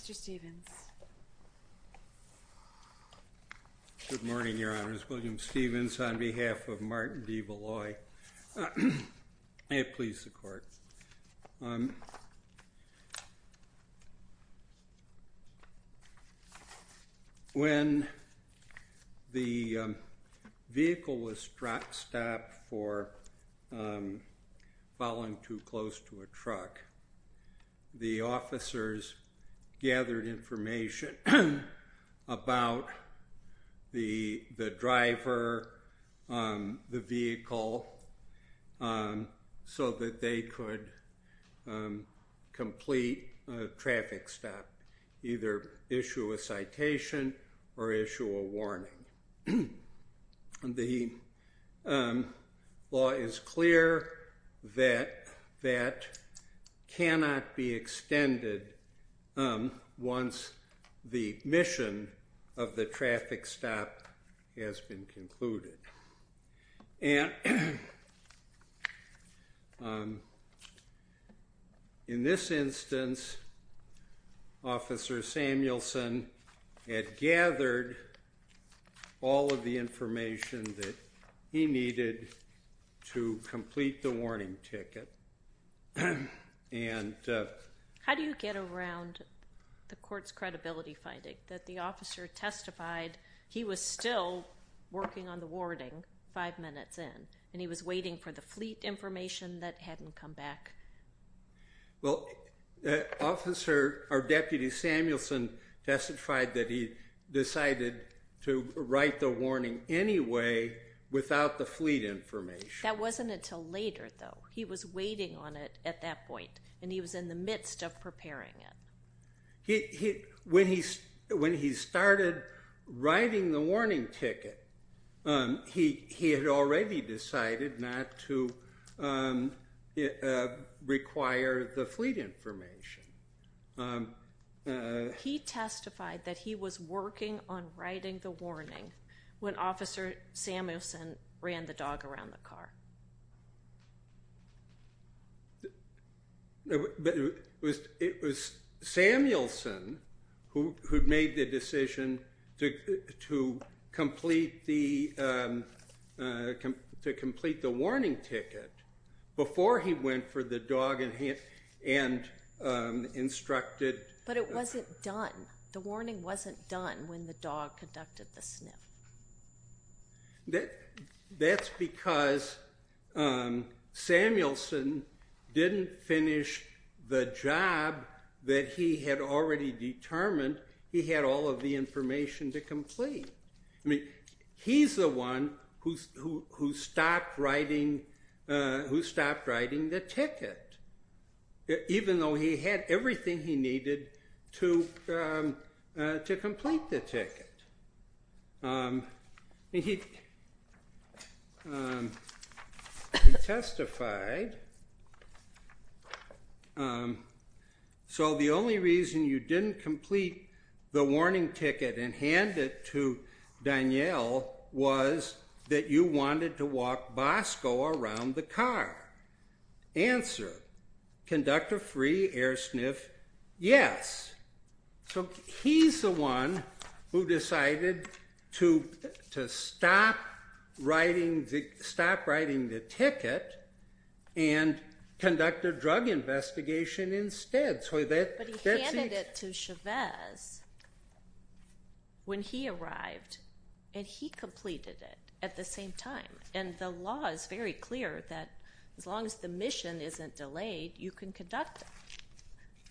Mr. Stevens. Good morning, Your Honors. William Stevens, on behalf of Martin Devalois, may it please the Court. When the vehicle was stopped for following too close to a truck, the officers gathered information about the driver, the vehicle, so that they could complete a traffic stop, either issue a citation or issue a warning. The law is clear that that cannot be extended once the mission of the traffic stop has been information that he needed to complete the warning ticket. How do you get around the Court's credibility finding that the officer testified he was still working on the warning five minutes in, and he was waiting for the fleet information that hadn't come back? Well, Deputy Samuelson testified that he decided to write the warning anyway without the fleet information. That wasn't until later, though. He was waiting on it at that point, and he was in the midst of preparing it. When he started writing the warning ticket, he had already decided not to require the fleet information. He testified that he was working on writing the warning when Officer Samuelson ran the dog around the car. But it was Samuelson who made the decision to complete the warning ticket before he went for the dog and instructed... But it wasn't done. The warning wasn't done when the dog conducted the sniff. That's because Samuelson didn't finish the job that he had already determined he had all of the information to complete. I mean, he's the one who stopped writing the ticket, even though he had everything he He testified. So the only reason you didn't complete the warning ticket and hand it to Danielle was that you wanted to walk Bosco around the car. Answer, conduct a free air sniff, yes. So he's the one who decided to stop writing the ticket and conduct a drug investigation instead. But he handed it to Chavez when he arrived, and he completed it at the same time. And the law is very clear that as long as the mission isn't delayed, you can conduct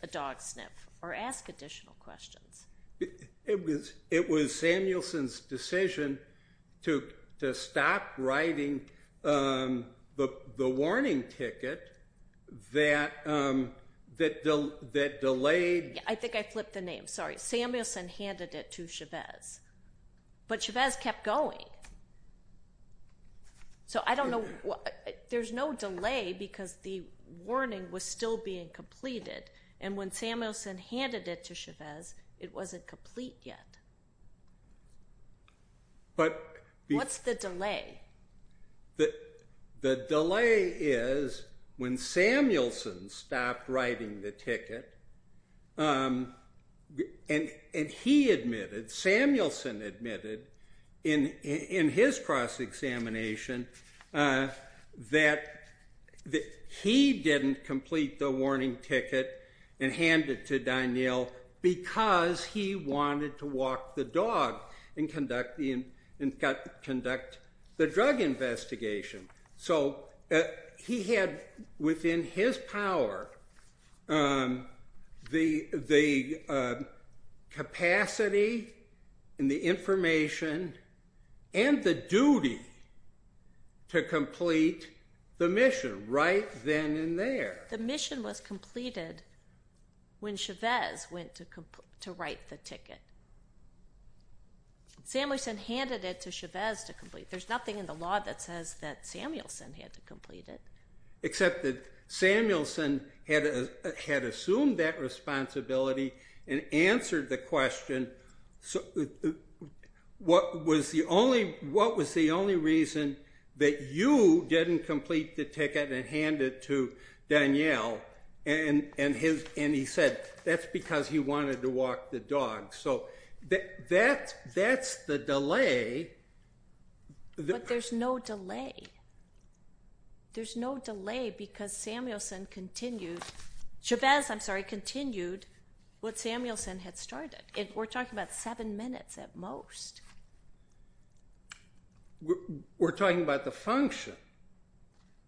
a dog sniff or ask additional questions. It was Samuelson's decision to stop writing the warning ticket that delayed... I think I flipped the name, sorry. Samuelson handed it to Chavez. But Chavez kept going. So I don't know, there's no delay because the warning was still being completed. And when Samuelson handed it to Chavez, it wasn't complete yet. What's the delay? The delay is when Samuelson stopped writing the ticket and he admitted, Samuelson admitted in his cross-examination that he didn't complete the warning ticket and hand it to Danielle because he wanted to walk the dog and conduct the drug investigation. So he had within his power the capacity and the information and the duty to complete the mission right then and there. The mission was completed when Chavez went to write the ticket. Samuelson handed it to Chavez to complete it. There's nothing in the law that says that Samuelson had to complete it. Except that Samuelson had assumed that responsibility and answered the question, what was the only reason that you didn't complete the ticket and hand it to Danielle? And he said that's because he wanted to walk the dog. So that's the delay. But there's no delay. There's no delay because Samuelson continued, Chavez, I'm sorry, continued what Samuelson had started. We're talking about seven minutes at most. We're talking about the function.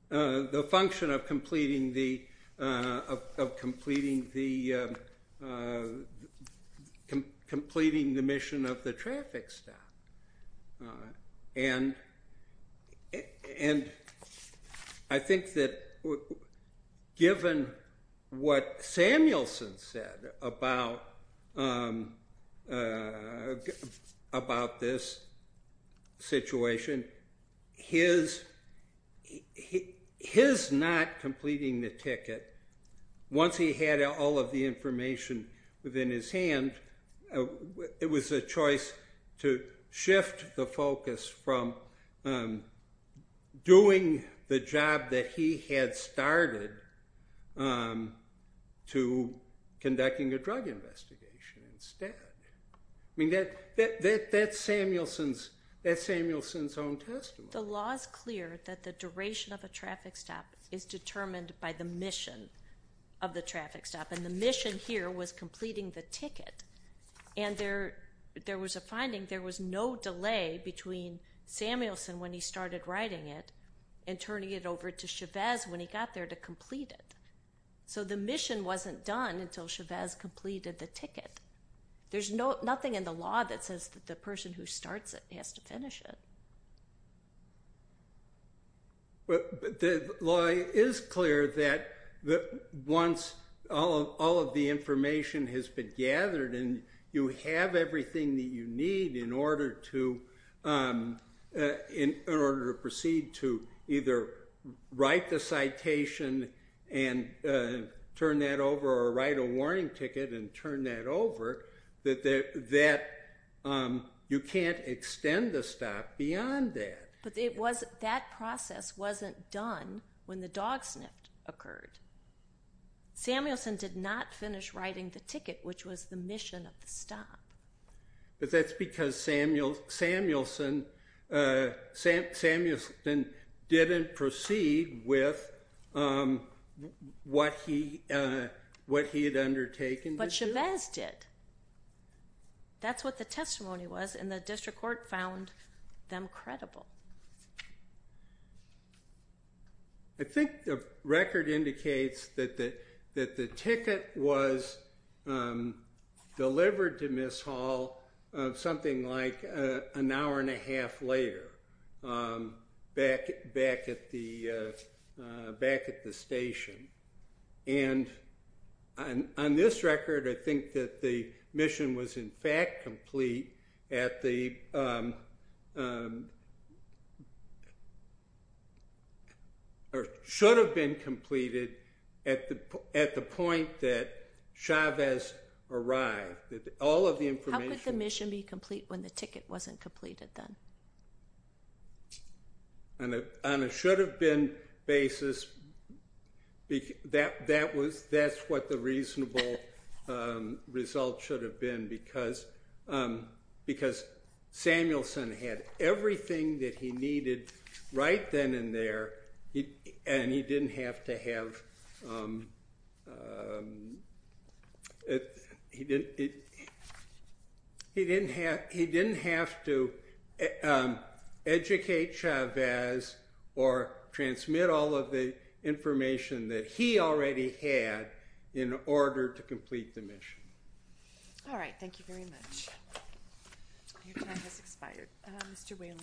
The function of completing the mission of the traffic stop. And I think that given what Samuelson said about this situation, his not completing the ticket, once he had all of the information within his hand, it was a choice to shift the focus from doing the job that he had started to conducting a drug investigation instead. I mean, that's Samuelson's own testimony. The law is clear that the duration of a traffic stop is determined by the mission of the traffic stop. And the mission here was completing the ticket. And there was a finding, there was no delay between Samuelson when he started writing it and turning it over to Chavez when he got there to complete it. So the mission wasn't done until Chavez completed the ticket. There's nothing in the law that says that the person who starts it has to finish it. The law is clear that once all of the information has been gathered and you have everything that you need in order to proceed to either write the citation and turn that over or write a warning ticket and turn that over, that you can't extend the stop beyond that. But that process wasn't done when the dog sniffed occurred. Samuelson did not finish writing the ticket, which was the mission of the stop. But that's because Samuelson didn't proceed with what he had undertaken. But Chavez did. That's what the testimony was, and the district court found them credible. I think the record indicates that the ticket was delivered to Miss Hall something like an hour and a half later, back at the station. And on this record, I think that the mission was in fact complete at the—or should have been completed at the point that Chavez arrived. All of the information— How could the mission be complete when the ticket wasn't completed then? On a should-have-been basis, that's what the reasonable result should have been, because Samuelson had everything that he needed right then and there, and he didn't have to educate Chavez or transmit all of the information that he already had in order to complete the mission. All right. Thank you very much. Your time has expired. Mr. Whalen.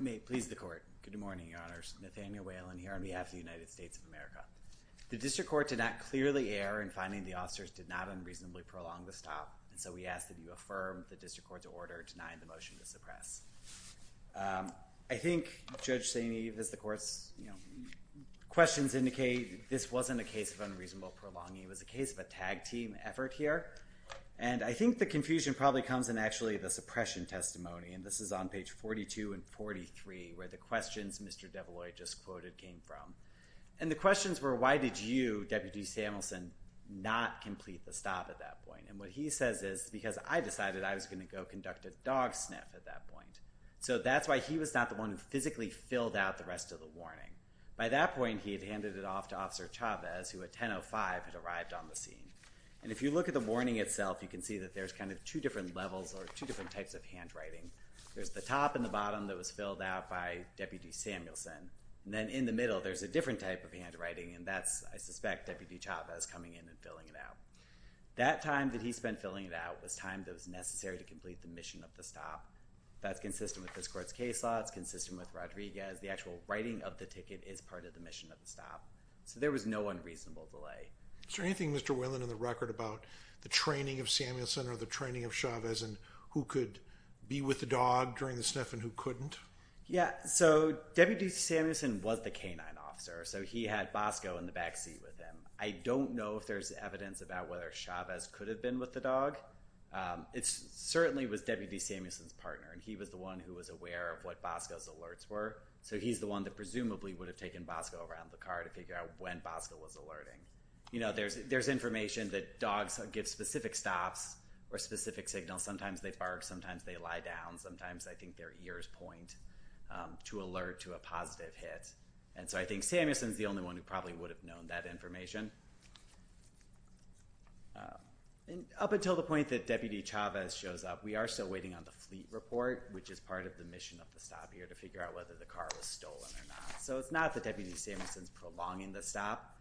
May it please the Court. Good morning, Your Honors. Nathaniel Whalen here on behalf of the United States of America. The district court did not clearly err in finding the officers did not unreasonably prolong the stop, and so we ask that you affirm the district court's order denying the motion to suppress. I think, Judge St. Eve, as the Court's questions indicate, this wasn't a case of unreasonable prolonging. It was a case of a tag-team effort here, and I think the confusion probably comes in actually the suppression testimony, and this is on page 42 and 43, where the questions Mr. DeBlois just quoted came from. And the questions were, why did you, Deputy Samuelson, not complete the stop at that point? And what he says is, because I decided I was going to go conduct a dog sniff at that point. So that's why he was not the one who physically filled out the rest of the warning. By that point, he had handed it off to Officer Chavez, who at 10.05 had arrived on the scene. And if you look at the warning itself, you can see that there's kind of two different levels or two different types of handwriting. There's the top and the bottom that was filled out by Deputy Samuelson, and then in the middle, there's a different type of handwriting, and that's, I suspect, Deputy Chavez coming in and filling it out. That time that he spent filling it out was time that was necessary to complete the mission of the stop. That's consistent with this court's case law. It's consistent with Rodriguez. The actual writing of the ticket is part of the mission of the stop. So there was no unreasonable delay. Is there anything, Mr. Whelan, in the record about the training of Samuelson or the training of Chavez and who could be with the dog during the sniff and who couldn't? Yeah, so Deputy Samuelson was the K-9 officer, so he had Bosco in the backseat with him. I don't know if there's evidence about whether Chavez could have been with the dog. It certainly was Deputy Samuelson's partner, and he was the one who was aware of what Bosco's alerts were. So he's the one that presumably would have taken Bosco around the car to figure out when Bosco was alerting. You know, there's information that dogs give specific stops or specific signals. Sometimes they bark. Sometimes they lie down. Sometimes I think their ears point to alert to a positive hit. And so I think Samuelson's the only one who probably would have known that information. And up until the point that Deputy Chavez shows up, we are still waiting on the fleet report, which is part of the mission of the stop here, to figure out whether the car was stolen or not. So it's not that Deputy Samuelson's prolonging the stop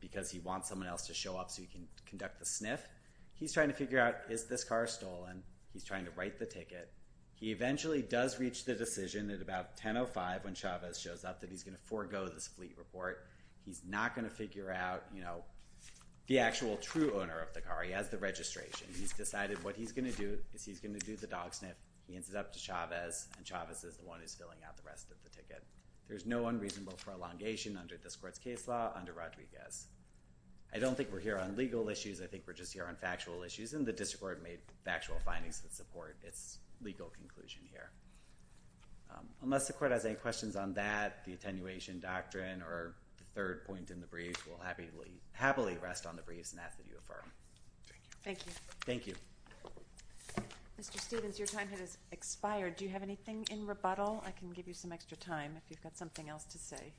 because he wants someone else to show up so he can conduct the sniff. He's trying to figure out is this car stolen. He's trying to write the ticket. He eventually does reach the decision at about 10.05 when Chavez shows up that he's going to forego this fleet report. He's not going to figure out the actual true owner of the car. He has the registration. He's decided what he's going to do is he's going to do the dog sniff. He hands it up to Chavez, and Chavez is the one who's filling out the rest of the ticket. There's no unreasonable prolongation under this court's case law under Rodriguez. I don't think we're here on legal issues. I think we're just here on factual issues, and the district court made factual findings that support its legal conclusion here. Unless the court has any questions on that, the attenuation doctrine or the third point in the brief will happily rest on the briefs and have to be reaffirmed. Thank you. Thank you. Mr. Stevens, your time has expired. Do you have anything in rebuttal? I can give you some extra time if you've got something else to say.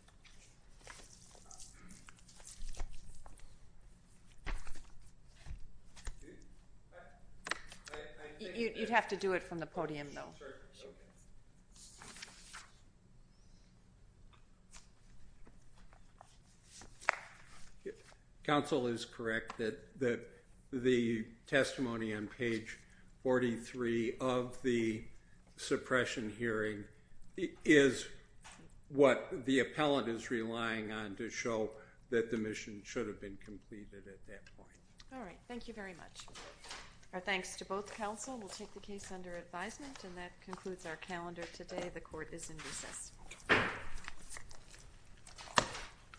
You'd have to do it from the podium, though. Counsel is correct that the testimony on page 43 of the suppression hearing is what the appellant is relying on to show that the mission should have been completed at that point. All right. Thank you very much. Our thanks to both counsel. We'll take the case under advisement, and that concludes our calendar today. The court is in recess.